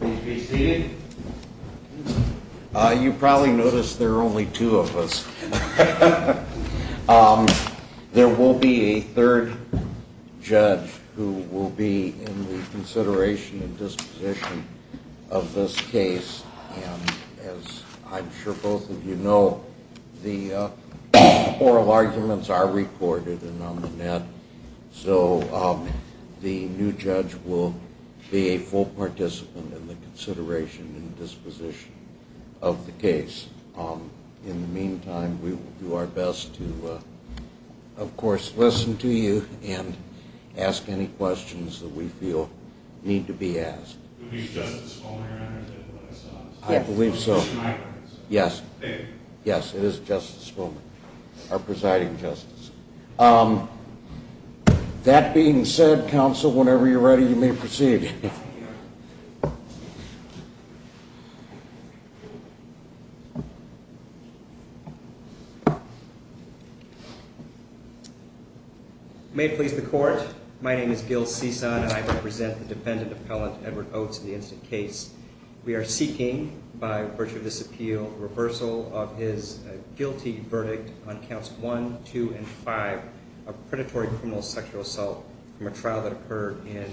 Please be seated. You probably noticed there are only two of us. There will be a third judge who will be in the consideration and disposition of this case. As I'm sure both of you know, the oral arguments are recorded and on the net, so the new judge will be a full participant in the consideration and disposition of the case. In the meantime, we will do our best to, of course, listen to you and ask any questions that we feel need to be asked. I believe so. Yes. Yes, it is just this moment are presiding justice. That being said, counsel, whenever you're ready, you may proceed. Thank you. May it please the court. My name is Gil Cisan, and I will present the defendant appellant, Edward Oats, in the incident case. We are seeking, by virtue of this appeal, reversal of his guilty verdict on counts one, two, and five of predatory criminal sexual assault from a trial that occurred in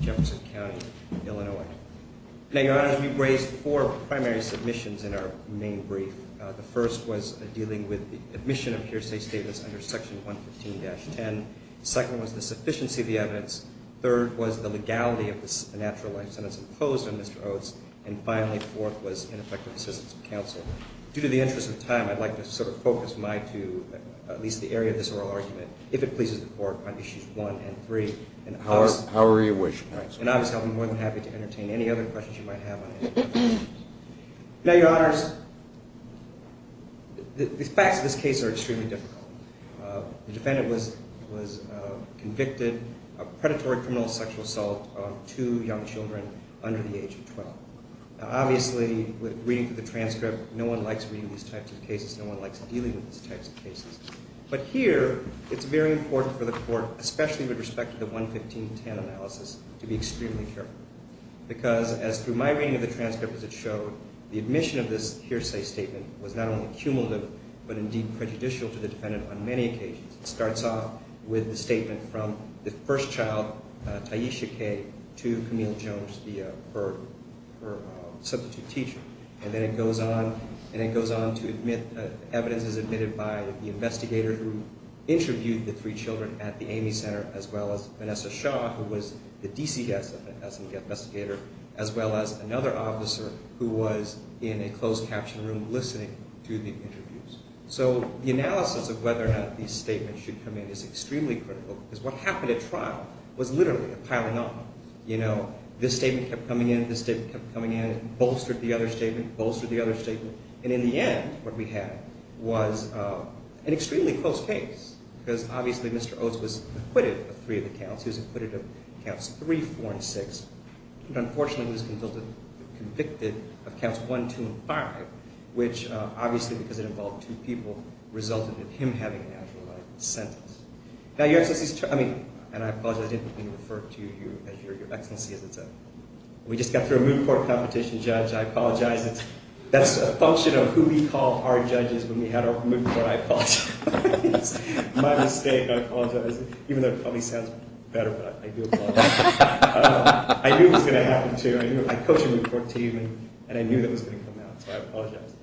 Jefferson County, Illinois. Now, Your Honors, we've raised four primary submissions in our main brief. The first was dealing with the admission of hearsay statements under section 115-10. The second was the sufficiency of the evidence. The third was the legality of the natural life sentence imposed on Mr. Oats. And finally, the fourth was ineffective assistance of counsel. Due to the interest of time, I'd like to sort of focus my two, at least the area of this oral argument, if it pleases the court, on issues one and three. However you wish, counsel. And obviously, I'll be more than happy to entertain any other questions you might have on it. Now, Your Honors, the facts of this case are extremely difficult. The defendant was convicted of predatory criminal sexual assault on two young children under the age of 12. Now, obviously, reading through the transcript, no one likes reading these types of cases. No one likes dealing with these types of cases. But here, it's very important for the court, especially with respect to the 115-10 analysis, to be extremely careful. Because, as through my reading of the transcript, as it showed, the admission of this hearsay statement was not only cumulative, but indeed prejudicial to the defendant on many occasions. It starts off with the statement from the first child, Taisha Kay, to Camille Jones, her substitute teacher. And then it goes on to evidence as admitted by the investigator who interviewed the three children at the Amy Center, as well as Vanessa Shaw, who was the DC investigator, as well as another officer who was in a closed captioned room listening to the interviews. So, the analysis of whether or not these statements should come in is extremely critical. Because what happened at trial was literally a pile-on. You know, this statement kept coming in, this statement kept coming in. It bolstered the other statement, bolstered the other statement. And in the end, what we had was an extremely close case. Because, obviously, Mr. Oates was acquitted of three of the counts. He was acquitted of counts three, four, and six. But, unfortunately, he was convicted of counts one, two, and five. Which, obviously, because it involved two people, resulted in him having an actual sentence. Now, Your Excellency, and I apologize, I didn't mean to refer to you as Your Excellency. We just got through a moot court competition, Judge. I apologize. That's a function of who we call our judges when we have our moot court. I apologize. It's my mistake. I apologize. Even though it probably sounds better, but I do apologize. I knew it was going to happen, too. I coached a moot court team, and I knew it was going to come out. So, I apologize.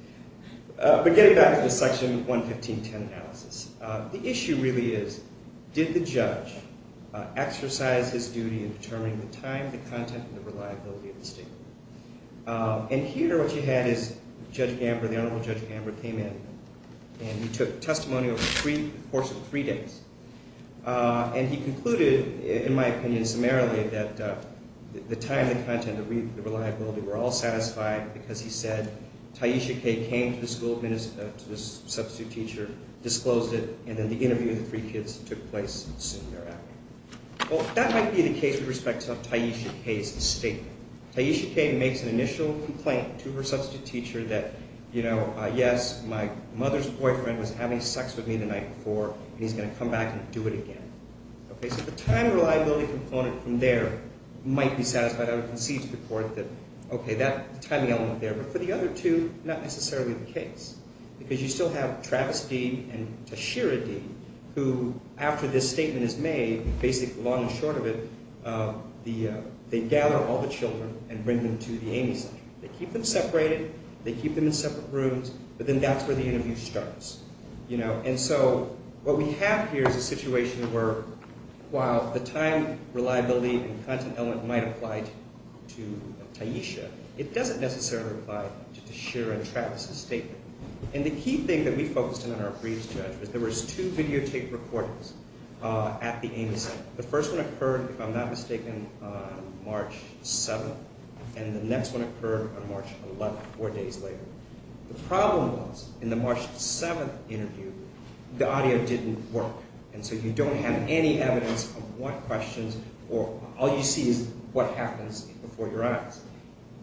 But getting back to the section 115.10 analysis. The issue really is, did the judge exercise his duty in determining the time, the content, and the reliability of the statement? And here, what you had is Judge Gamber, the Honorable Judge Gamber, came in. And he took testimony over the course of three days. And he concluded, in my opinion, summarily, that the time, the content, and the reliability were all satisfied. Because he said, Taisha Kaye came to the school, to the substitute teacher, disclosed it, and then the interview of the three kids took place soon thereafter. Well, that might be the case with respect to Taisha Kaye's statement. Taisha Kaye makes an initial complaint to her substitute teacher that, you know, yes, my mother's boyfriend was having sex with me the night before, and he's going to come back and do it again. Okay? So, the time reliability component from there might be satisfied. I would concede to the court that, okay, that timing element there. But for the other two, not necessarily the case. Because you still have Travis Dean and Tashira Dean, who, after this statement is made, basically the long and short of it, they gather all the children and bring them to the Amy Center. They keep them separated. They keep them in separate rooms. But then that's where the interview starts. And so what we have here is a situation where, while the time reliability and content element might apply to Taisha, it doesn't necessarily apply to Tashira and Travis's statement. And the key thing that we focused on in our briefs, Judge, was there was two videotape recordings at the Amy Center. The first one occurred, if I'm not mistaken, on March 7th, and the next one occurred on March 11th, four days later. The problem was, in the March 7th interview, the audio didn't work. And so you don't have any evidence of what questions or all you see is what happens before your eyes.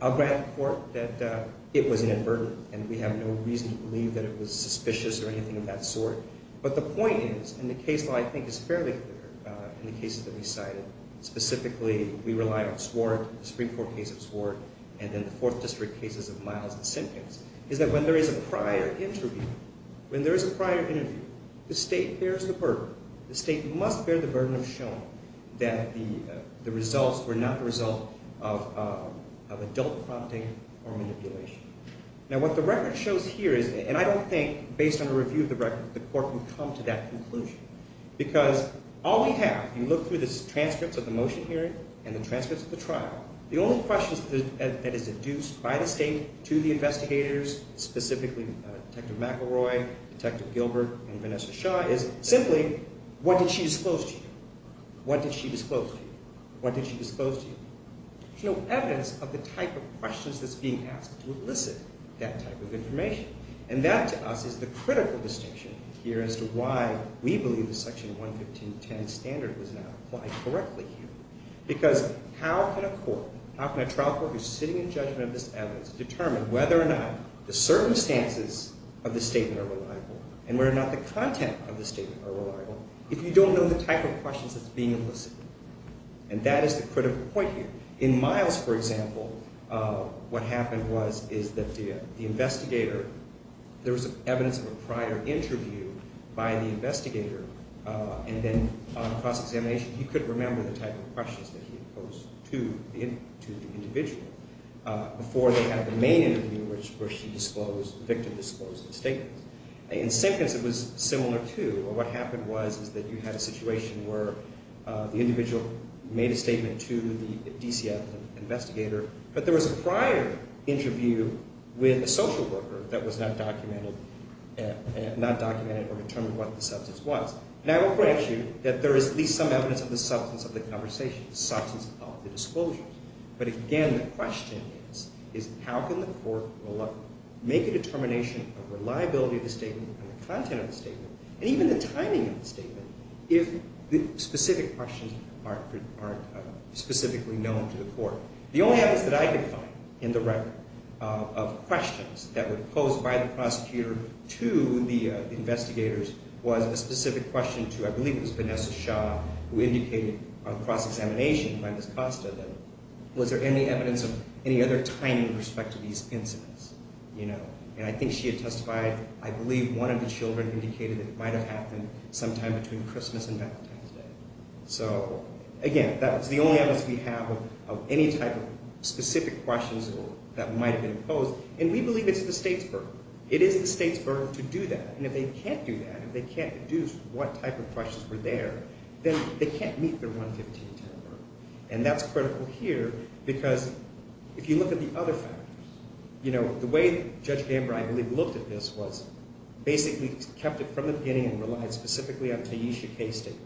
I'll grant the court that it was inadvertent, and we have no reason to believe that it was suspicious or anything of that sort. But the point is, and the case law, I think, is fairly clear in the cases that we cited. Specifically, we relied on Swart, the Supreme Court case of Swart, and then the Fourth District cases of Miles and Simkins, is that when there is a prior interview, when there is a prior interview, the state bears the burden. The state must bear the burden of showing that the results were not the result of adult fronting or manipulation. Now, what the record shows here is, and I don't think, based on a review of the record, the court can come to that conclusion. Because all we have, you look through the transcripts of the motion hearing and the transcripts of the trial, the only questions that is deduced by the state to the investigators, specifically Detective McElroy, Detective Gilbert, and Vanessa Shaw, is simply, what did she disclose to you? What did she disclose to you? What did she disclose to you? There's no evidence of the type of questions that's being asked to elicit that type of information. And that, to us, is the critical distinction here as to why we believe the Section 11510 standard was not applied correctly here. Because how can a court, how can a trial court who's sitting in judgment of this evidence, determine whether or not the circumstances of the statement are reliable, and whether or not the content of the statement are reliable, if you don't know the type of questions that's being elicited? And that is the critical point here. In Miles, for example, what happened was, is that the investigator, there was evidence of a prior interview by the investigator, and then on a cross-examination, he couldn't remember the type of questions that he posed to the individual before they had the main interview, where she disclosed, the victim disclosed the statement. In Simpkins, it was similar, too. What happened was, is that you had a situation where the individual made a statement to the DCF investigator, but there was a prior interview with a social worker that was not documented or determined what the substance was. And I will grant you that there is at least some evidence of the substance of the conversation, the substance of the disclosure. But again, the question is, is how can the court make a determination of reliability of the statement and the content of the statement, and even the timing of the statement, if the specific questions aren't specifically known to the court? The only evidence that I could find in the record of questions that were posed by the prosecutor to the investigators was a specific question to, I believe it was Vanessa Shaw, who indicated on cross-examination by Ms. Costa, that was there any evidence of any other timing with respect to these incidents? And I think she had testified, I believe one of the children indicated that it might have happened sometime between Christmas and Valentine's Day. So again, that was the only evidence we have of any type of specific questions that might have been posed. And we believe it's the state's burden. It is the state's burden to do that. And if they can't do that, if they can't deduce what type of questions were there, then they can't meet their 11510 burden. And that's critical here, because if you look at the other factors, you know, the way that Judge Gamber, I believe, looked at this was basically kept it from the beginning and relied specifically on Taisha Kaye's statement.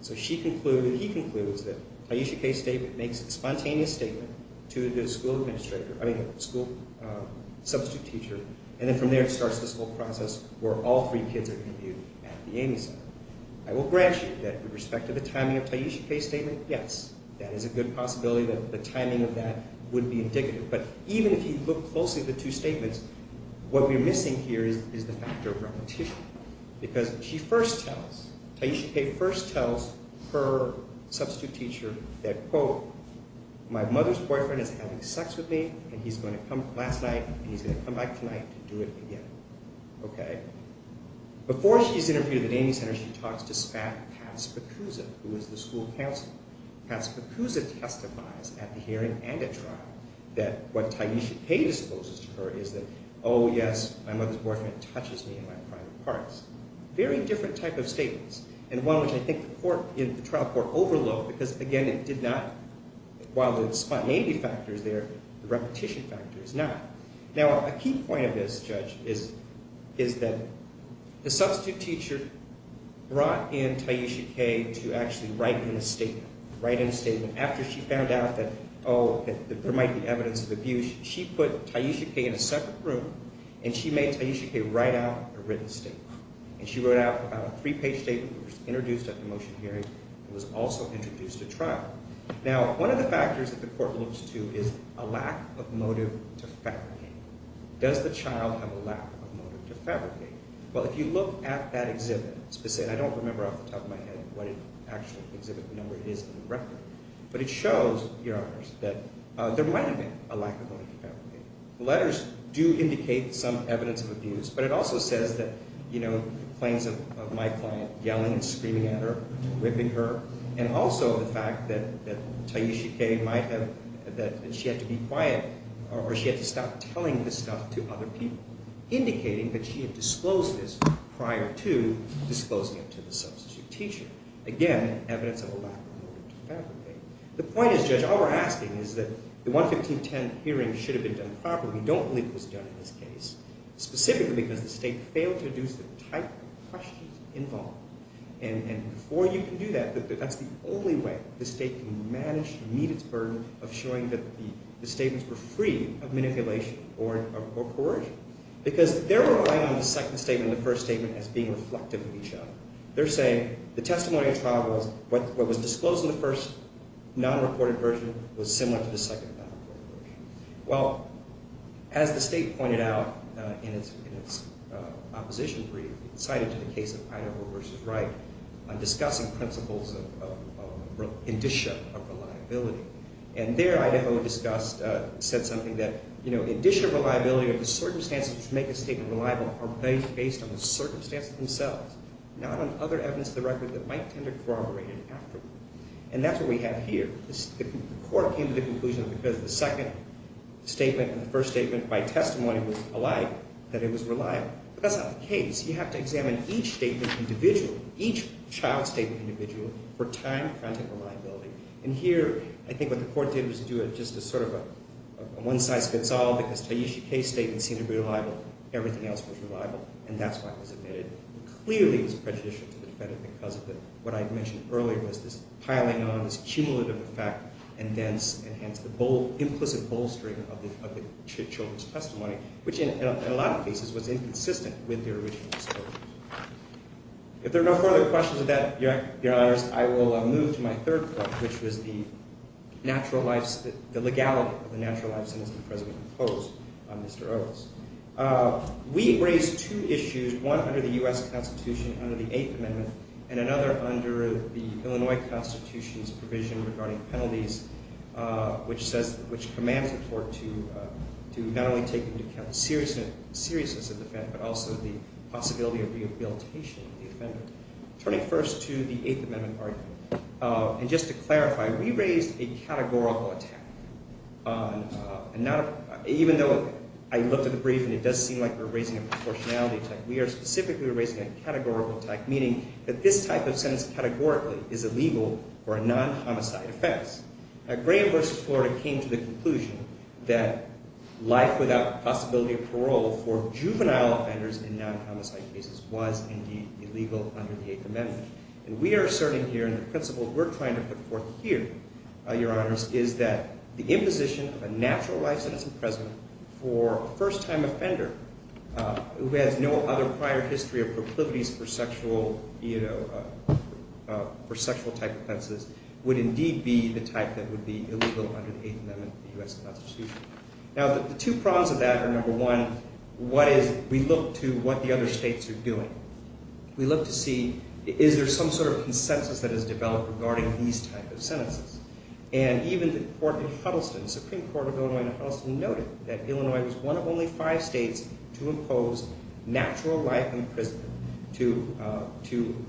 So she concluded, he concludes, that Taisha Kaye's statement makes a spontaneous statement to the school administrator, I mean the school substitute teacher, and then from there it starts this whole process where all three kids are interviewed at the Amy Center. I will grant you that with respect to the timing of Taisha Kaye's statement, yes, that is a good possibility that the timing of that would be indicative. But even if you look closely at the two statements, what we're missing here is the factor of repetition. Because she first tells, Taisha Kaye first tells her substitute teacher that, quote, my mother's boyfriend is having sex with me and he's going to come last night and he's going to come back tonight to do it again. Okay. Before she's interviewed at the Amy Center, she talks to SPAT and Pat Spacuzza, who is the school counselor. Pat Spacuzza testifies at the hearing and at trial that what Taisha Kaye disposes to her is that, oh yes, my mother's boyfriend touches me in my private parts. Very different type of statements, and one which I think the trial court overlooked because, again, it did not, while the spontaneity factor is there, the repetition factor is not. Now, a key point of this, Judge, is that the substitute teacher brought in Taisha Kaye to actually write in a statement. Write in a statement. After she found out that, oh, that there might be evidence of abuse, she put Taisha Kaye in a separate room and she made Taisha Kaye write out a written statement. And she wrote out about a three-page statement that was introduced at the motion hearing and was also introduced at trial. Now, one of the factors that the court looks to is a lack of motive to fabricate. Does the child have a lack of motive to fabricate? Well, if you look at that exhibit, I don't remember off the top of my head what it actually exhibited, I know where it is in the record, but it shows, Your Honors, that there might have been a lack of motive to fabricate. Letters do indicate some evidence of abuse, but it also says that, you know, claims of my client yelling and screaming at her, whipping her, and also the fact that Taisha Kaye might have, that she had to be quiet or she had to stop telling this stuff to other people, indicating that she had disclosed this prior to disclosing it to the substitute teacher. Again, evidence of a lack of motive to fabricate. The point is, Judge, all we're asking is that the 11510 hearing should have been done properly. We don't believe it was done in this case, specifically because the State failed to introduce the type of questions involved. And before you can do that, that's the only way the State can manage to meet its burden of showing that the statements were free of manipulation or coercion. Because they're relying on the second statement and the first statement as being reflective of each other. They're saying the testimony of trial was, what was disclosed in the first non-reported version was similar to the second non-reported version. Well, as the State pointed out in its opposition brief, it cited the case of Idaho v. Wright discussing principles of indicia of reliability. And there Idaho discussed, said something that, you know, indicia of reliability are the circumstances which make a State reliable are based on the circumstances themselves, not on other evidence of the record that might tend to corroborate it afterward. And that's what we have here. The court came to the conclusion that because the second statement and the first statement by testimony was alike, that it was reliable. But that's not the case. You have to examine each statement individually, each child statement individually, for time, time to reliability. And here, I think what the court did was do it just as sort of a one-size-fits-all, because Taishi K's statements seemed to be reliable. Everything else was reliable. And that's why it was admitted. Clearly, it was prejudicial to the defendant because of what I mentioned earlier was this piling on, this cumulative effect, and hence the implicit bolstering of the children's testimony, which in a lot of cases was inconsistent with their original disclosures. If there are no further questions of that, Your Honor, I will move to my third point, which was the natural life, the legality of the natural life sentence the President imposed on Mr. Earles. We raised two issues, one under the U.S. Constitution under the Eighth Amendment and another under the Illinois Constitution's provision regarding penalties, which commands the court to not only take into account the seriousness of the offense, but also the possibility of rehabilitation of the offender. Turning first to the Eighth Amendment argument, and just to clarify, we raised a categorical attack. Even though I looked at the brief and it does seem like we're raising a proportionality attack, we are specifically raising a categorical attack, meaning that this type of sentence categorically is illegal for a non-homicide offense. Graham v. Florida came to the conclusion that life without possibility of parole for juvenile offenders in non-homicide cases was indeed illegal under the Eighth Amendment. And we are asserting here, and the principle we're trying to put forth here, Your Honors, is that the imposition of a natural life sentence in prison for a first-time offender who has no other prior history of proclivities for sexual type offenses would indeed be the type that would be illegal under the Eighth Amendment of the U.S. Constitution. Now, the two prongs of that are, number one, what is – we look to what the other states are doing. We look to see is there some sort of consensus that has developed regarding these type of sentences. And even the court in Huddleston, the Supreme Court of Illinois in Huddleston, noted that Illinois was one of only five states to impose natural life in prison to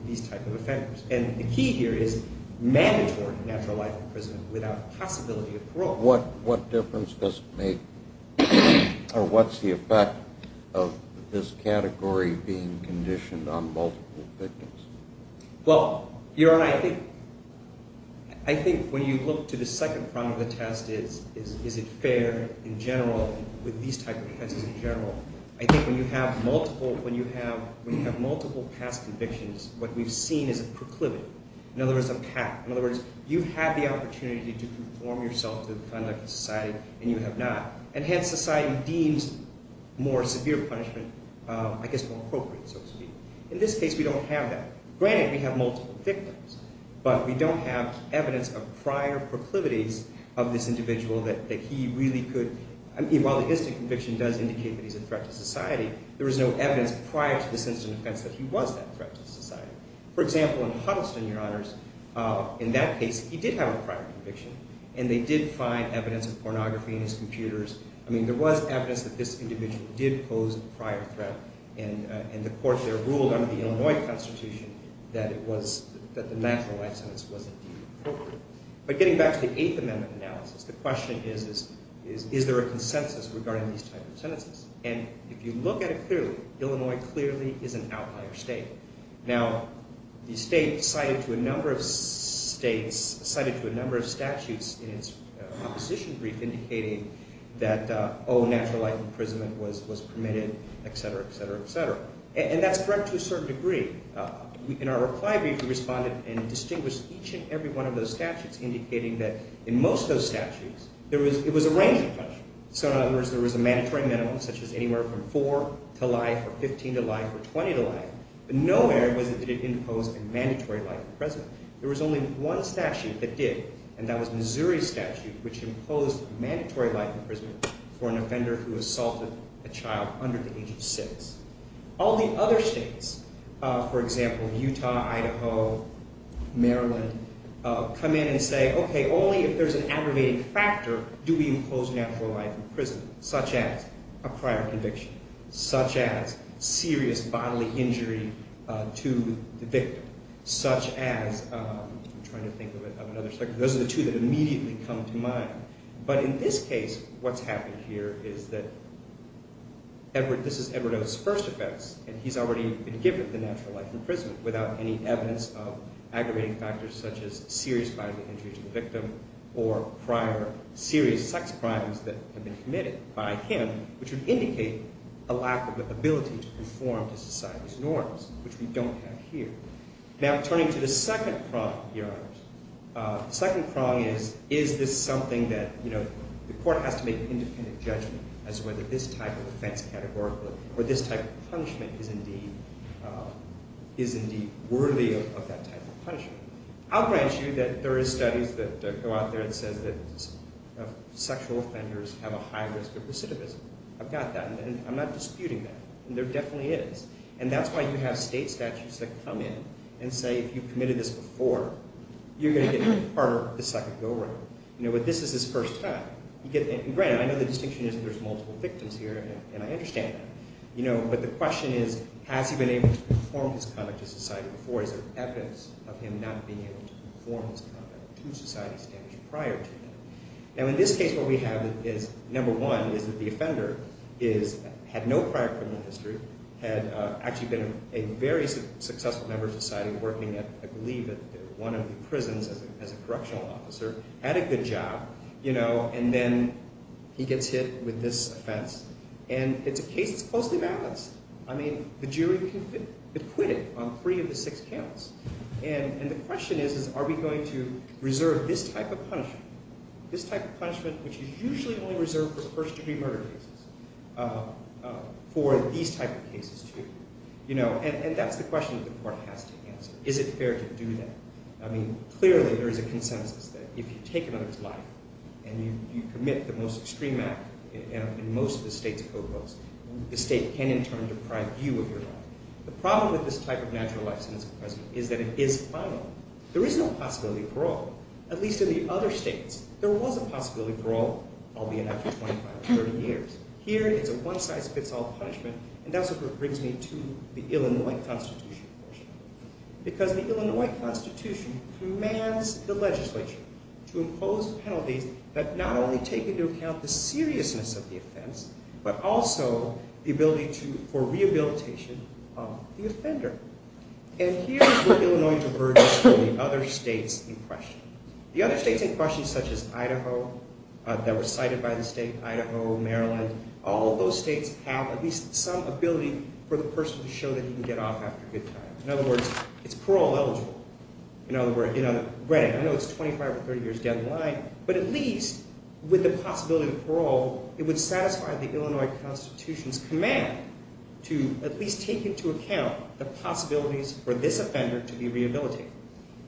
these type of offenders. And the key here is mandatory natural life in prison without possibility of parole. What difference does it make, or what's the effect of this category being conditioned on multiple convictions? Well, Your Honor, I think when you look to the second prong of the test is, is it fair in general with these type of offenses in general, I think when you have multiple past convictions, what we've seen is a proclivity. In other words, a pact. In other words, you've had the opportunity to conform yourself to the conduct of society, and you have not. And hence, society deems more severe punishment, I guess, more appropriate, so to speak. In this case, we don't have that. Granted, we have multiple victims, but we don't have evidence of prior proclivities of this individual that he really could – I mean, while the instant conviction does indicate that he's a threat to society, there was no evidence prior to this instant offense that he was that threat to society. For example, in Huddleston, Your Honors, in that case, he did have a prior conviction, and they did find evidence of pornography in his computers. I mean, there was evidence that this individual did pose a prior threat, and the court there ruled under the Illinois Constitution that it was – that the natural life sentence wasn't deemed appropriate. But getting back to the Eighth Amendment analysis, the question is, is there a consensus regarding these type of sentences? And if you look at it clearly, Illinois clearly is an outlier state. Now, the state cited to a number of states – cited to a number of statutes in its opposition brief indicating that, oh, natural life imprisonment was permitted, etc., etc., etc. And that's correct to a certain degree. In our reply brief, we responded and distinguished each and every one of those statutes, indicating that in most of those statutes, there was – it was a range of punishment. So in other words, there was a mandatory minimum, such as anywhere from four to life or 15 to life or 20 to life. But nowhere was it that it imposed a mandatory life imprisonment. There was only one statute that did, and that was Missouri's statute, which imposed mandatory life imprisonment for an offender who assaulted a child under the age of six. All the other states – for example, Utah, Idaho, Maryland – come in and say, okay, only if there's an aggravating factor do we impose natural life imprisonment, such as a prior conviction, such as serious bodily injury to the victim, such as – I'm trying to think of another statute. Those are the two that immediately come to mind. But in this case, what's happened here is that Edward – this is Edward O.'s first offense, and he's already been given the natural life imprisonment without any evidence of aggravating factors such as serious bodily injury to the victim or prior serious sex crimes that have been committed by him, which would indicate a lack of ability to conform to society's norms, which we don't have here. Now, turning to the second prong here, Your Honors, the second prong is, is this something that the court has to make an independent judgment as to whether this type of offense categorically or this type of punishment is indeed worthy of that type of punishment? I'll grant you that there is studies that go out there that says that sexual offenders have a high risk of recidivism. I've got that, and I'm not disputing that. There definitely is. And that's why you have state statutes that come in and say, if you committed this before, you're going to get harder the second go-round. This is his first time. Granted, I know the distinction is that there's multiple victims here, and I understand that. But the question is, has he been able to conform his conduct to society before? Is there evidence of him not being able to conform his conduct to society's standards prior to that? Now, in this case, what we have is, number one, is that the offender had no prior criminal history, had actually been a very successful member of society working at, I believe, at one of the prisons as a correctional officer, had a good job, and then he gets hit with this offense. And it's a case that's closely balanced. I mean, the jury acquitted on three of the six counts. And the question is, are we going to reserve this type of punishment, this type of punishment, which is usually only reserved for first-degree murder cases, for these type of cases too? And that's the question that the court has to answer. Is it fair to do that? I mean, clearly, there is a consensus that if you take another's life and you commit the most extreme act in most of the state's code books, the state can, in turn, deprive you of your life. The problem with this type of natural life sentence imprisonment is that it is final. There is no possibility for all, at least in the other states. There was a possibility for all, albeit after 25 or 30 years. Here, it's a one-size-fits-all punishment, and that's what brings me to the Illinois Constitution. Because the Illinois Constitution commands the legislature to impose penalties that not only take into account the seriousness of the offense, but also the ability for rehabilitation of the offender. And here is where Illinois diverges from the other states in question. The other states in question, such as Idaho, that were cited by the state, Idaho, Maryland, all of those states have at least some ability for the person to show that he can get off after a good time. In other words, it's parole-eligible. In other words, I know it's 25 or 30 years down the line, but at least with the possibility of parole, it would satisfy the Illinois Constitution's command to at least take into account the possibilities for this offender to be rehabilitated.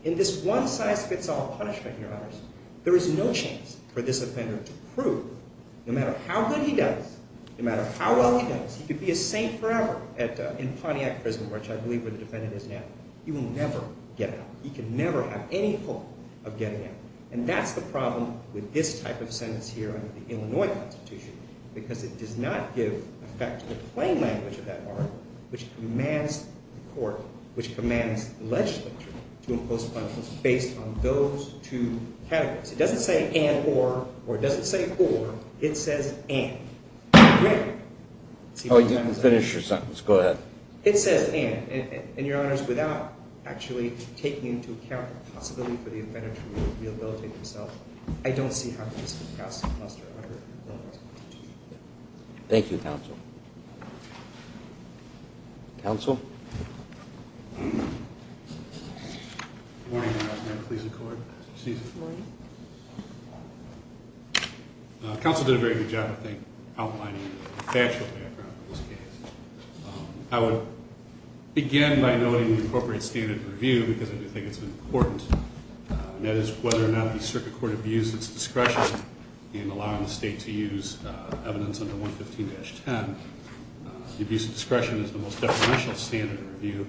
In this one-size-fits-all punishment, Your Honors, there is no chance for this offender to prove, no matter how good he does, no matter how well he does, he could be a saint forever in Pontiac Prison, which I believe where the defendant is now. He will never get out. He can never have any hope of getting out. And that's the problem with this type of sentence here under the Illinois Constitution, because it does not give effect to the plain language of that article, which commands the court, which commands the legislature, to impose punishments based on those two categories. It doesn't say and or, or it doesn't say or. It says and. Oh, you didn't finish your sentence. Go ahead. It says and. And, Your Honors, without actually taking into account the possibility for the offender to rehabilitate himself, I don't see how this could pass the cluster under the Illinois Constitution. Thank you, counsel. Counsel? Good morning, Your Honor. May I please record? Excuse me. Good morning. Counsel did a very good job, I think, outlining the factual background of this case. I would begin by noting the appropriate standard of review, because I do think it's important, and that is whether or not the circuit court abused its discretion in allowing the state to use evidence under 115-10. The abuse of discretion is the most definitional standard of review,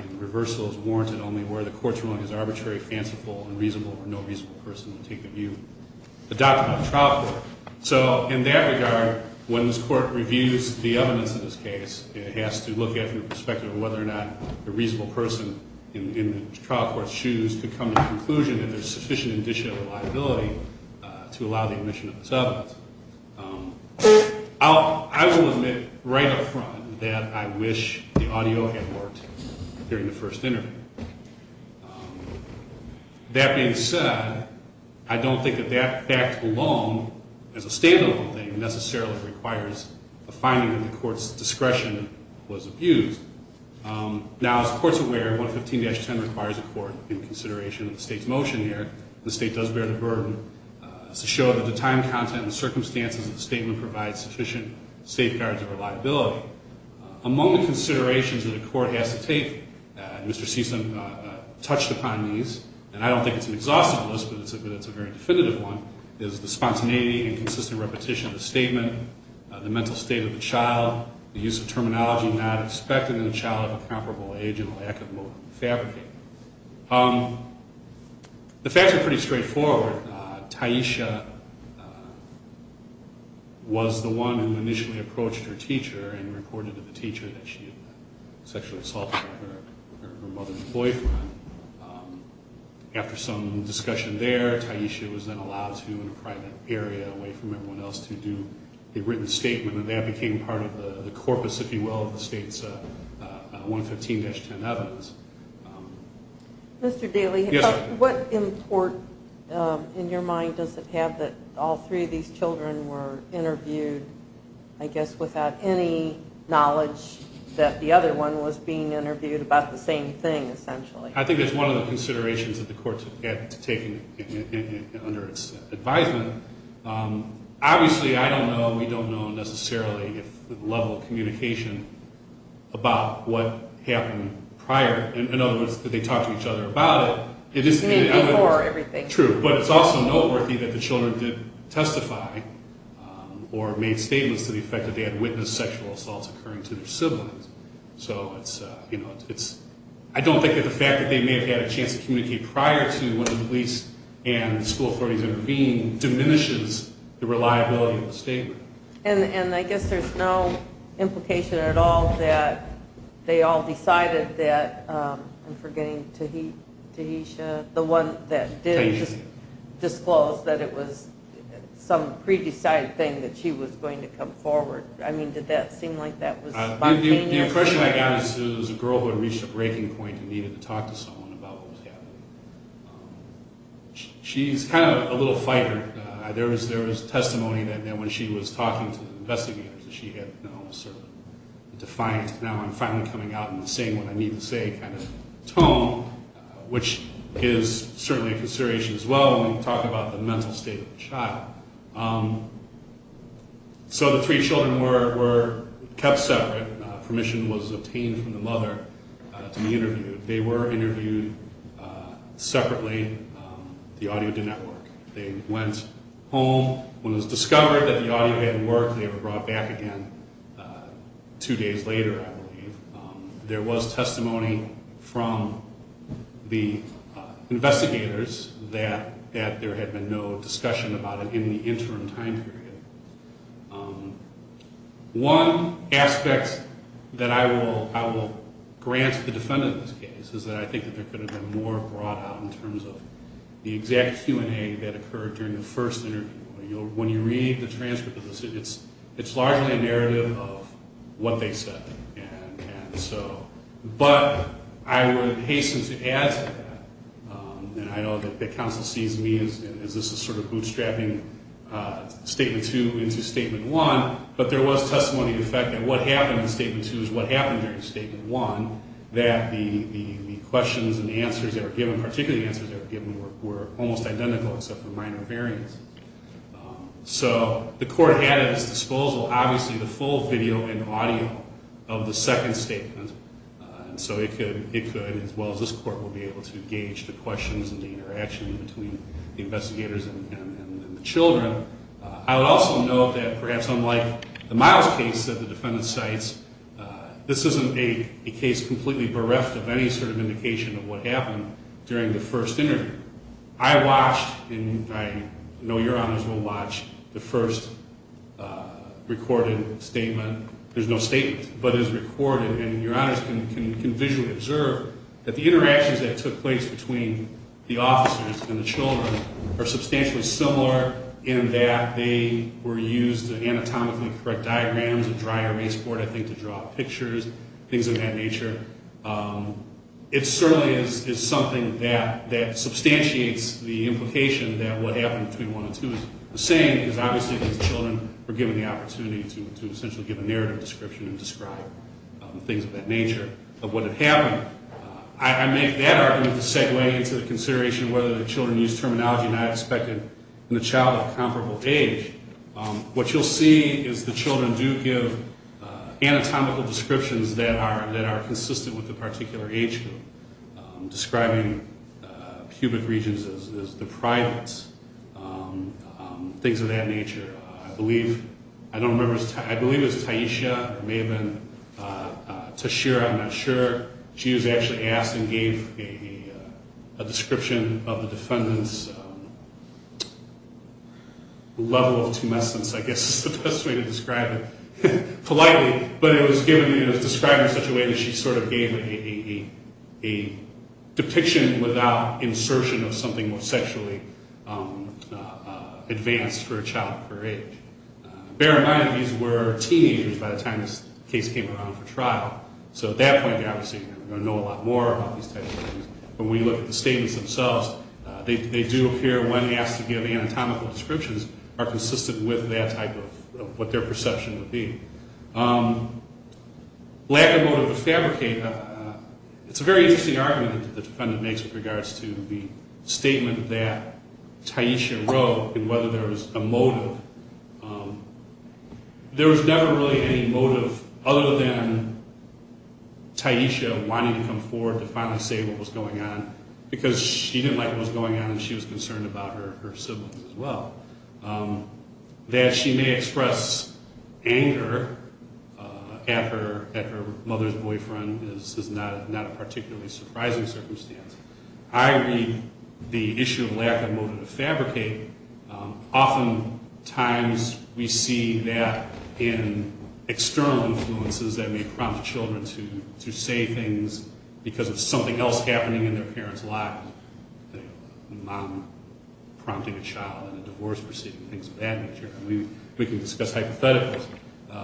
and reversal is warranted only where the court's ruling is arbitrary, fanciful, unreasonable, or no reasonable person would take the view adopted by the trial court. So in that regard, when this court reviews the evidence of this case, it has to look at it from the perspective of whether or not the reasonable person in the trial court's shoes could come to the conclusion that there's sufficient additional liability to allow the admission of this evidence. I will admit right up front that I wish the audio had worked during the first interview. That being said, I don't think that that fact alone, as a stand-alone thing, necessarily requires a finding that the court's discretion was abused. Now, as the court's aware, 115-10 requires a court in consideration of the state's motion here. The state does bear the burden to show that the time, content, and circumstances of the statement provide sufficient safeguards of reliability. Among the considerations that a court has to take, and Mr. Seeson touched upon these, and I don't think it's an exhaustive list, but it's a very definitive one, is the spontaneity and consistent repetition of the statement. Again, the mental state of the child, the use of terminology not expected in a child of a comparable age and lack of motive to fabricate. The facts are pretty straightforward. Taisha was the one who initially approached her teacher and reported to the teacher that she had sexually assaulted her mother's boyfriend. After some discussion there, Taisha was then allowed to, in a private area away from everyone else, to do a written statement, and that became part of the corpus, if you will, of the state's 115-10 evidence. Mr. Daley, what import in your mind does it have that all three of these children were interviewed, I guess, without any knowledge that the other one was being interviewed about the same thing, essentially? I think that's one of the considerations that the court's had to take under its advisement. Obviously, I don't know, we don't know necessarily the level of communication about what happened prior. In other words, did they talk to each other about it? Maybe before everything. True. But it's also noteworthy that the children did testify or made statements to the effect that they had witnessed sexual assaults occurring to their siblings. I don't think that the fact that they may have had a chance to communicate prior to when the police and school authorities intervened diminishes the reliability of the statement. And I guess there's no implication at all that they all decided that, I'm forgetting, Taisha, the one that did disclose that it was some pre-decided thing that she was going to come forward. I mean, did that seem like that was spontaneous? The impression I got is that it was a girl who had reached a breaking point and needed to talk to someone about what was happening. She's kind of a little fighter. There was testimony that when she was talking to investigators that she had now sort of defined, now I'm finally coming out in the same, what I need to say, kind of tone, which is certainly a consideration as well when we talk about the mental state of a child. So the three children were kept separate. Permission was obtained from the mother to be interviewed. They were interviewed separately. The audio didn't work. They went home. When it was discovered that the audio hadn't worked, they were brought back again two days later, I believe. There was testimony from the investigators that there had been no discussion about it in the interim time period. One aspect that I will grant the defendant in this case is that I think there could have been more brought out in terms of the exact Q&A that occurred during the first interview. When you read the transcript of this, it's largely a narrative of what they said. But I would hasten to add to that, and I know that the counsel sees me as this is sort of bootstrapping Statement 2 into Statement 1, but there was testimony to the fact that what happened in Statement 2 is what happened during Statement 1, that the questions and the answers that were given, particularly the answers that were given, were almost identical except for minor variance. So the court had at its disposal, obviously, the full video and audio of the second statement. So it could, as well as this court, will be able to gauge the questions and the interaction between the investigators and the children. I would also note that perhaps unlike the Miles case that the defendant cites, this isn't a case completely bereft of any sort of indication of what happened during the first interview. I watched, and I know your honors will watch, the first recorded statement. There's no statement, but it's recorded, and your honors can visually observe that the interactions that took place between the officers and the children are substantially similar in that they were used anatomically correct diagrams, a dry erase board, I think, to draw pictures, things of that nature. It certainly is something that substantiates the implication that what happened between 1 and 2 is the same, because obviously the children were given the opportunity to essentially give a narrative description and describe things of that nature of what had happened. I make that argument to segue into the consideration of whether the children used terminology not expected in the child of comparable age. What you'll see is the children do give anatomical descriptions that are consistent with the particular age group, describing pubic regions as deprived, things of that nature. I believe, I don't remember, I believe it was Taisha, it may have been Tashira, I'm not sure. She was actually asked and gave a description of the defendant's level of tumescence, I guess is the best way to describe it, politely. But it was described in such a way that she sort of gave a depiction without insertion of something more sexually advanced for a child of her age. Bear in mind, these were teenagers by the time this case came around for trial, so at that point, they obviously know a lot more about these types of things. When we look at the statements themselves, they do appear, when asked to give anatomical descriptions, are consistent with that type of what their perception would be. Lack of motive to fabricate, it's a very interesting argument that the defendant makes with regards to the statement that Taisha wrote and whether there was a motive. There was never really any motive other than Taisha wanting to come forward to finally say what was going on, because she didn't like what was going on and she was concerned about her siblings as well. That she may express anger at her mother's boyfriend is not a particularly surprising circumstance. I read the issue of lack of motive to fabricate. Oftentimes we see that in external influences that may prompt children to say things because of something else happening in their parents' lives. A mom prompting a child in a divorce proceeding, things of that nature. We can discuss hypotheticals,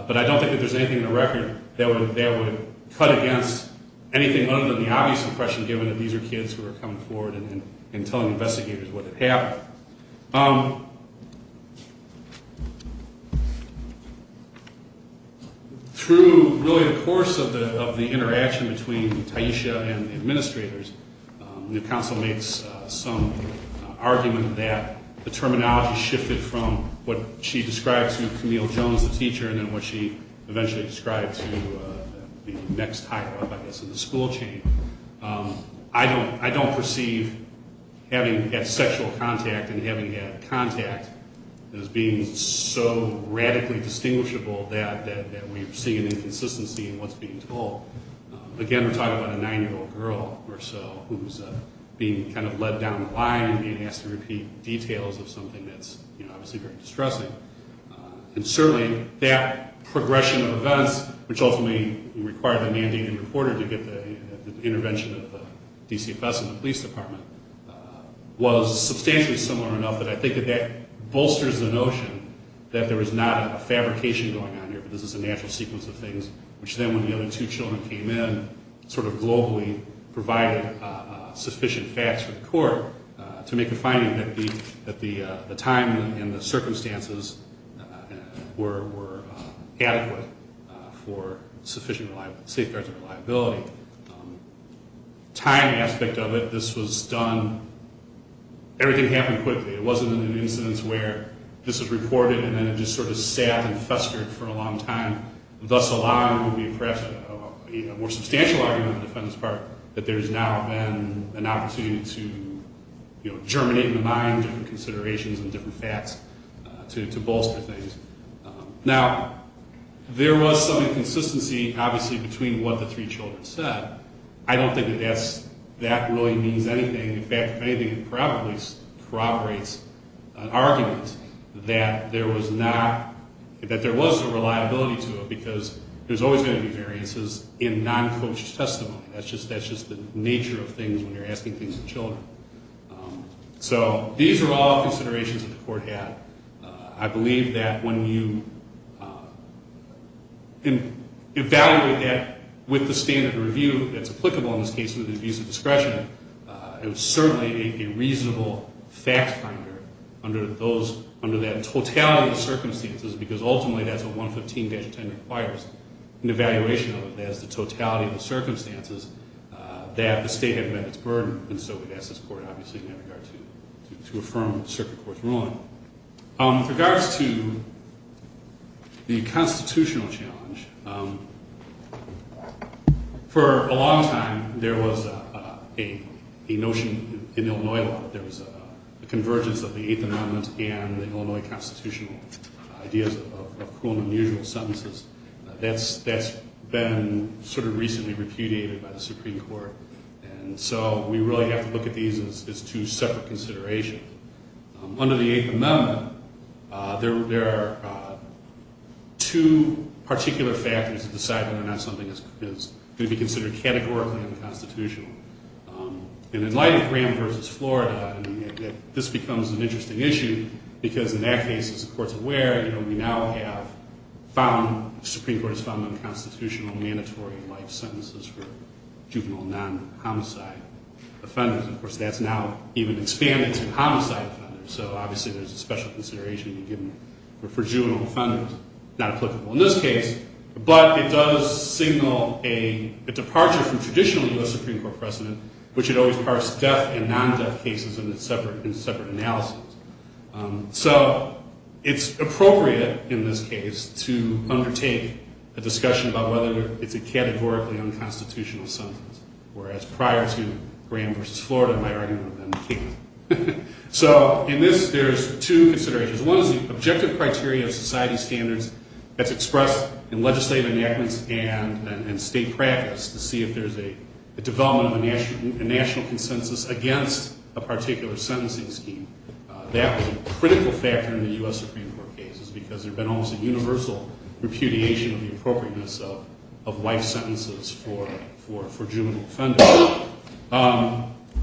but I don't think that there's anything in the record that would cut against anything other than the obvious impression given that these are kids who are coming forward and telling investigators what had happened. Through really the course of the interaction between Taisha and the administrators, the counsel makes some argument that the terminology shifted from what she described to Camille Jones, the teacher, and then what she eventually described to the next higher-up, I guess, in the school chain. I don't perceive having had sexual contact and having had contact as being so radically distinguishable that we see an inconsistency in what's being told. Again, we're talking about a nine-year-old girl or so who's being kind of led down the line and being asked to repeat details of something that's obviously very distressing. And certainly, that progression of events, which ultimately required a mandated reporter to get the intervention of the DCFS and the police department, was substantially similar enough that I think that that bolsters the notion that there was not a fabrication going on here, but this is a natural sequence of things, which then, when the other two children came in, sort of globally provided sufficient facts for the court to make a finding that the time and the circumstances were adequate for sufficient safeguards of reliability. Time aspect of it, this was done, everything happened quickly. It wasn't an incidence where this was reported and then it just sort of sat and festered for a long time. Thus along would be perhaps a more substantial argument on the defendant's part that there has now been an opportunity to germinate in the mind different considerations and different facts to bolster things. Now, there was some inconsistency, obviously, between what the three children said. I don't think that that really means anything. In fact, if anything, it probably corroborates an argument that there was a reliability to it because there's always going to be variances in non-coached testimony. That's just the nature of things when you're asking things of children. So these are all considerations that the court had. I believe that when you evaluate that with the standard of review that's applicable in this case with abuse of discretion, it was certainly a reasonable fact finder under that totality of circumstances because ultimately that's what 115-10 requires. An evaluation of it as the totality of the circumstances that the state had met its burden. And so we've asked this court, obviously, in that regard to affirm Circuit Court's ruling. With regards to the constitutional challenge, for a long time there was a notion in Illinois law that there was a convergence of the Eighth Amendment and the Illinois constitutional ideas of cruel and unusual sentences that's been sort of recently repudiated by the Supreme Court. And so we really have to look at these as two separate considerations. Under the Eighth Amendment, there are two particular factors to decide whether or not something is going to be considered categorically unconstitutional. And in light of Graham v. Florida, this becomes an interesting issue because in that case, the court's aware we now have found, the Supreme Court has found unconstitutional mandatory life sentences for juvenile non-homicide offenders. Of course, that's now even expanded to homicide offenders. So obviously there's a special consideration for juvenile offenders. Not applicable in this case, but it does signal a departure from traditionally the Supreme Court precedent, which had always parsed death and non-death cases in separate analyses. So it's appropriate in this case to undertake a discussion about whether it's a categorically unconstitutional sentence, whereas prior to Graham v. Florida, my argument would have been the case. So in this, there's two considerations. One is the objective criteria of society standards that's expressed in legislative enactments and state practice to see if there's a development of a national consensus against a particular sentencing scheme. That was a critical factor in the U.S. Supreme Court cases because there had been almost a universal repudiation of the appropriateness of life sentences for juvenile offenders.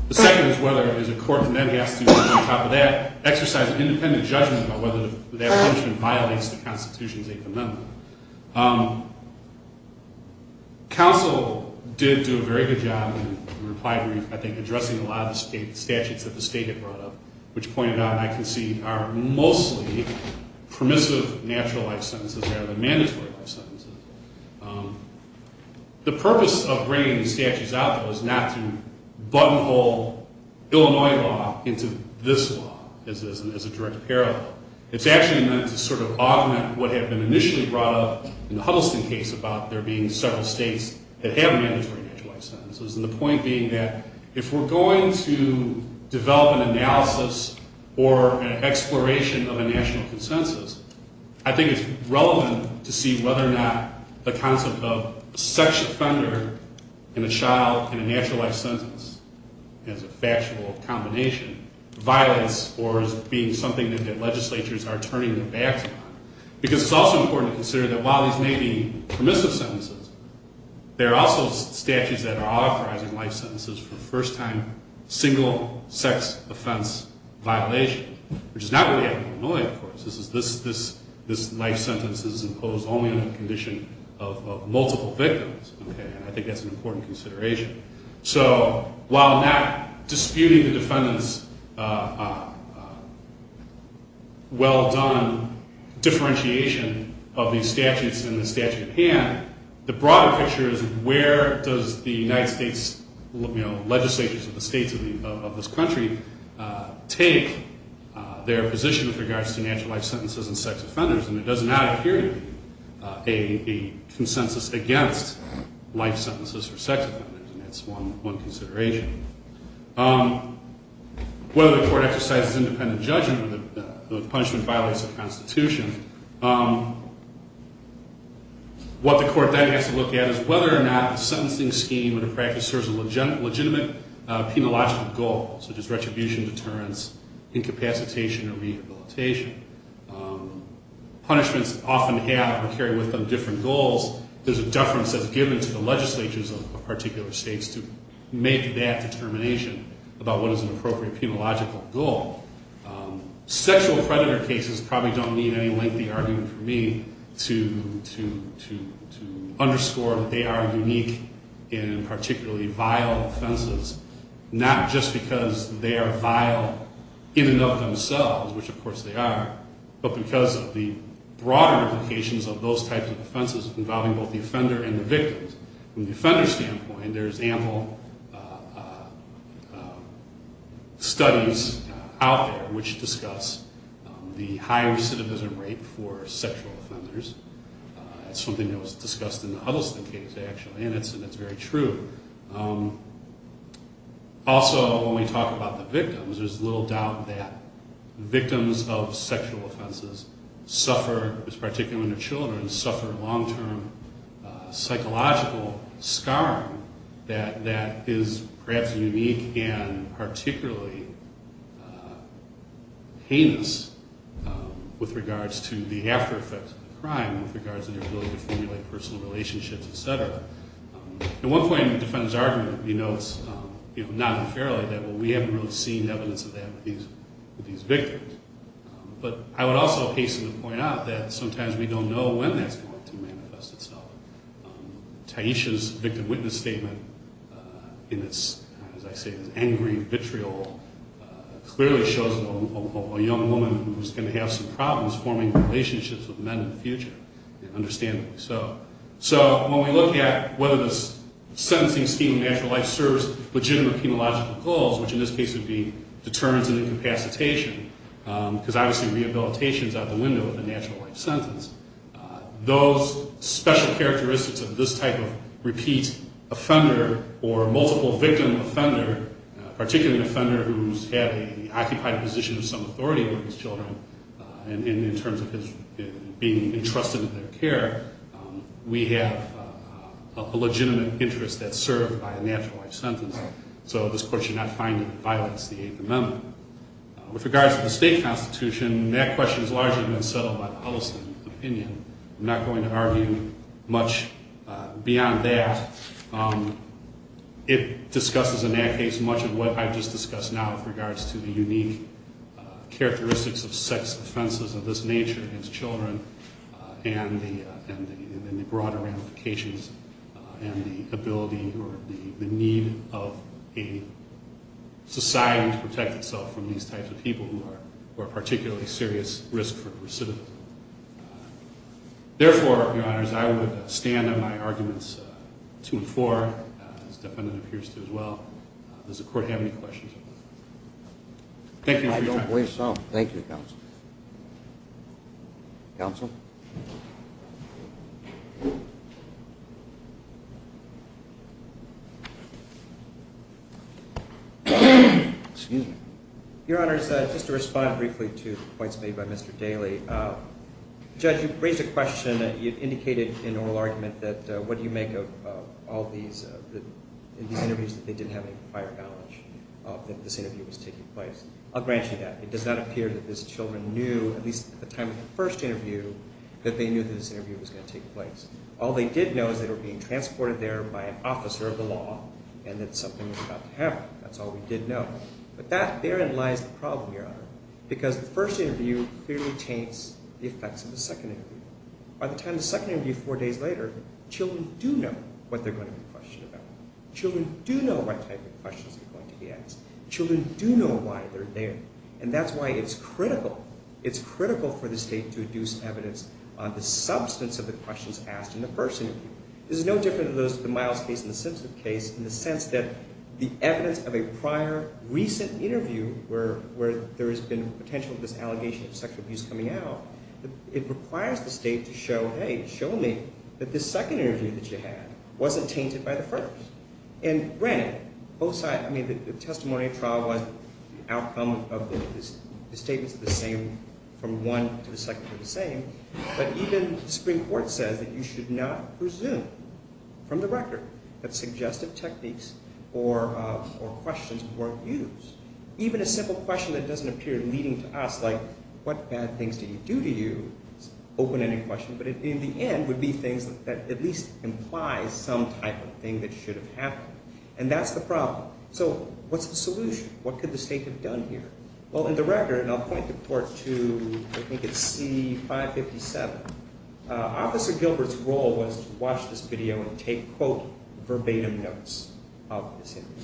The second is whether there's a court that then has to, on top of that, exercise an independent judgment about whether that punishment violates the Constitution's Eighth Amendment. Counsel did do a very good job in reply brief, I think, addressing a lot of the statutes that the state had brought up, which pointed out, and I concede, are mostly permissive natural life sentences rather than mandatory life sentences. The purpose of bringing the statutes out, though, is not to buttonhole Illinois law into this law as a direct parallel. It's actually meant to sort of augment what had been initially brought up in the Huddleston case about there being several states that have mandatory natural life sentences, and the point being that if we're going to develop an analysis or an exploration of a national consensus, I think it's relevant to see whether or not the concept of a sex offender and a child in a natural life sentence as a factual combination violates or is being something that legislatures are turning their backs on. Because it's also important to consider that while these may be permissive sentences, there are also statutes that are authorizing life sentences for first-time single-sex-offense violation, which is not really out of Illinois, of course. This life sentence is imposed only under the condition of multiple victims, and I think that's an important consideration. So while not disputing the defendant's well-done differentiation of these statutes in the statute at hand, the broader picture is where does the United States legislatures of the states of this country take their position with regards to natural life sentences and sex offenders, and it does not appear to be a consensus against life sentences for sex offenders, and that's one consideration. Whether the court exercises independent judgment or the punishment violates the Constitution, what the court then has to look at is whether or not the sentencing scheme and the practice serves a legitimate penological goal, such as retribution, deterrence, incapacitation, or rehabilitation. Punishments often have or carry with them different goals. There's a deference that's given to the legislatures of particular states to make that determination about what is an appropriate penological goal. Sexual predator cases probably don't need any lengthy argument from me to underscore that they are unique in particularly vile offenses, not just because they are vile in and of themselves, which of course they are, but because of the broader implications of those types of offenses involving both the offender and the victim. From the offender standpoint, there's ample studies out there which discuss the high recidivism rate for sexual offenders. It's something that was discussed in the Huddleston case, actually, and it's very true. Also, when we talk about the victims, there's little doubt that victims of sexual offenses suffer, particularly when they're children, suffer long-term psychological scarring that is perhaps unique and particularly heinous with regards to the after-effects of the crime, with regards to their ability to formulate personal relationships, et cetera. At one point in the defendant's argument, he notes non-unfairly that, well, we haven't really seen evidence of that with these victims. But I would also hastily point out that sometimes we don't know when that's going to manifest itself. Taisha's victim-witness statement in its, as I say, angry, vitriol, clearly shows a young woman who's going to have some problems forming relationships with men in the future, understandably so. So when we look at whether this sentencing scheme in natural life serves legitimate penological goals, which in this case would be deterrence and incapacitation, because obviously rehabilitation is out the window in a natural life sentence, those special characteristics of this type of repeat offender or multiple-victim offender, particularly an offender who's had an occupied position of some authority over his children, and in terms of being entrusted with their care, we have a legitimate interest that's served by a natural life sentence. So this court should not find it violates the Eighth Amendment. With regards to the state constitution, that question's largely been settled by the Huddleston opinion. I'm not going to argue much beyond that. It discusses in that case much of what I've just discussed now with regards to the unique characteristics of sex offenses of this nature against children and the broader ramifications and the ability or the need of a society to protect itself from these types of people who are particularly serious risk for recidivism. Therefore, Your Honors, I would stand on my arguments to and for, as the defendant appears to as well. Does the court have any questions? I don't believe so. Thank you, Counsel. Counsel? Excuse me. Your Honors, just to respond briefly to the points made by Mr. Daley, Judge, you've raised a question that you've indicated in oral argument that what do you make of all these interviews that they didn't have any prior knowledge of that this interview was taking place. I'll grant you that. It does not appear that these children knew, at least at the time of the first interview, that they knew that this interview was going to take place. All they did know is that they were being transported there by an officer of the law and that something was about to happen. That's all we did know. But that, therein lies the problem, Your Honor, because the first interview clearly taints the effects of the second interview. By the time of the second interview, four days later, children do know what they're going to be questioned about. Children do know what type of questions are going to be asked. Children do know why they're there. And that's why it's critical. It's critical for the State to deduce evidence on the substance of the questions asked in the first interview. This is no different than the Miles case and the Simpson case, in the sense that the evidence of a prior, recent interview where there has been potential for this allegation of sexual abuse coming out, it requires the State to show, hey, show me that this second interview that you had wasn't tainted by the first. And granted, both sides, I mean, the testimony of trial was the outcome of the statements of the same, from one to the second were the same, but even the Supreme Court says that you should not presume from the record that suggestive techniques or questions weren't used. Even a simple question that doesn't appear leading to us, like, what bad things did he do to you, is an open-ended question, but in the end would be things that at least imply some type of thing that should have happened. And that's the problem. So what's the solution? What could the State have done here? Well, in the record, and I'll point the court to, I think it's C557, Officer Gilbert's role was to watch this video and take, quote, verbatim notes of this interview.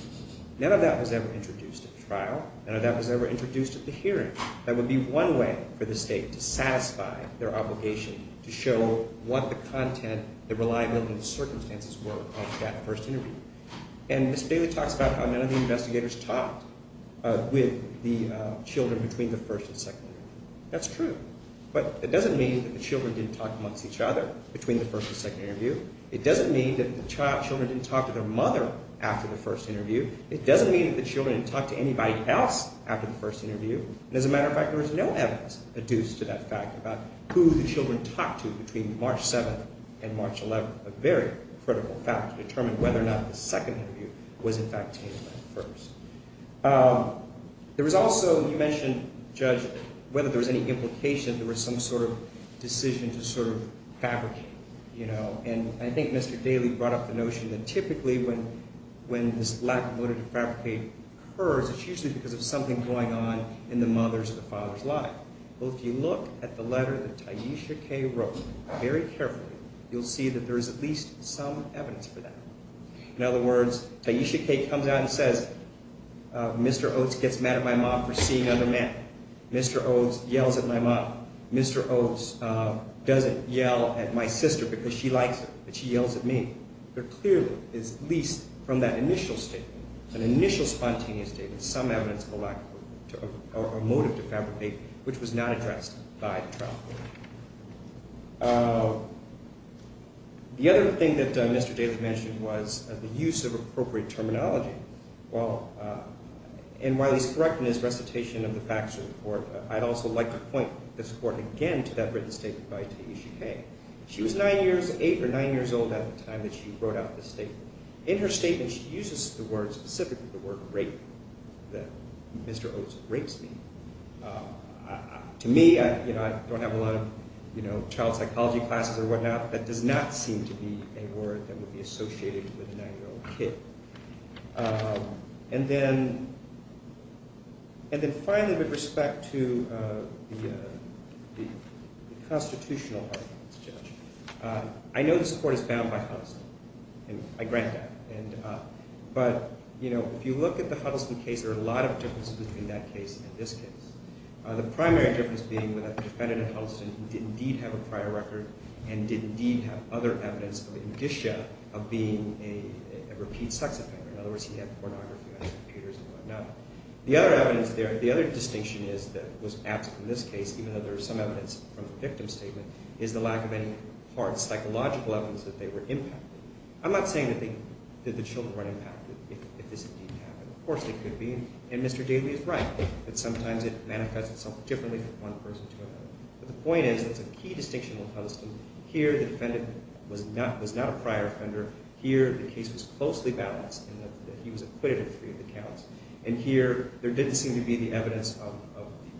None of that was ever introduced at the trial. None of that was ever introduced at the hearing. That would be one way for the State to satisfy their obligation to show what the content, the reliability of the circumstances were of that first interview. And Ms. Bailey talks about how none of the investigators talked with the children between the first and second interview. That's true, but it doesn't mean that the children didn't talk amongst each other between the first and second interview. It doesn't mean that the children didn't talk to their mother after the first interview. It doesn't mean that the children didn't talk to anybody else after the first interview. And as a matter of fact, there was no evidence adduced to that fact about who the children talked to between March 7th and March 11th, a very critical fact to determine whether or not the second interview was, in fact, tainted by the first. There was also, you mentioned, Judge, whether there was any implication that there was some sort of decision to sort of fabricate, you know. And I think Mr. Daly brought up the notion that typically when this lack of motive to fabricate occurs, it's usually because of something going on in the mother's or the father's life. Well, if you look at the letter that Taisha Kay wrote very carefully, you'll see that there is at least some evidence for that. In other words, Taisha Kay comes out and says, Mr. Oates gets mad at my mom for seeing other men. Mr. Oates yells at my mom. Mr. Oates doesn't yell at my sister because she likes him, but she yells at me. There clearly is at least from that initial statement, an initial spontaneous statement, some evidence of a lack of motive to fabricate, which was not addressed by the trial court. The other thing that Mr. Daly mentioned was the use of appropriate terminology. Well, and while he's correct in his recitation of the facts of the court, I'd also like to point this court again to that written statement by Taisha Kay. She was nine years old at the time that she wrote out this statement. In her statement, she uses the word, specifically the word rape, that Mr. Oates rapes me. To me, you know, I don't have a lot of, you know, child psychology classes or whatnot, but that does not seem to be a word that would be associated with a nine-year-old kid. And then finally, with respect to the constitutional arguments, Judge, I know this court is bound by Huddleston, and I grant that. But, you know, if you look at the Huddleston case, there are a lot of differences between that case and this case. The primary difference being that the defendant in Huddleston did indeed have a prior record and did indeed have other evidence of indicia of being a repeat sex offender. In other words, he had pornography on his computers and whatnot. The other evidence there, the other distinction is that was absent in this case, even though there is some evidence from the victim's statement, is the lack of any hard psychological evidence that they were impacted. I'm not saying that the children weren't impacted if this indeed happened. Of course they could be, and Mr. Daly is right. But sometimes it manifests itself differently from one person to another. But the point is there's a key distinction with Huddleston. Here the defendant was not a prior offender. Here the case was closely balanced in that he was acquitted of three of the counts. And here there didn't seem to be the evidence of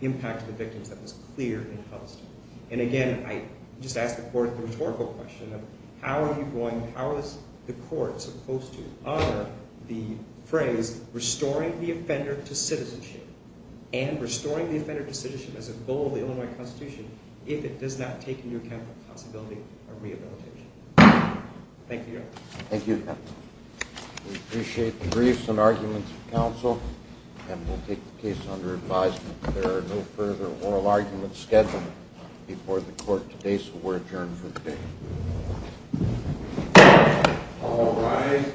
impact to the victims that was clear in Huddleston. And again, I just ask the court the rhetorical question of how are you going, and restoring the offender to citizenship as a goal of the Illinois Constitution if it does not take into account the possibility of rehabilitation. Thank you, Your Honor. Thank you, Your Honor. We appreciate the briefs and arguments of counsel, and we'll take the case under advisement. There are no further oral arguments scheduled before the court today, so we're adjourned for the day. All rise.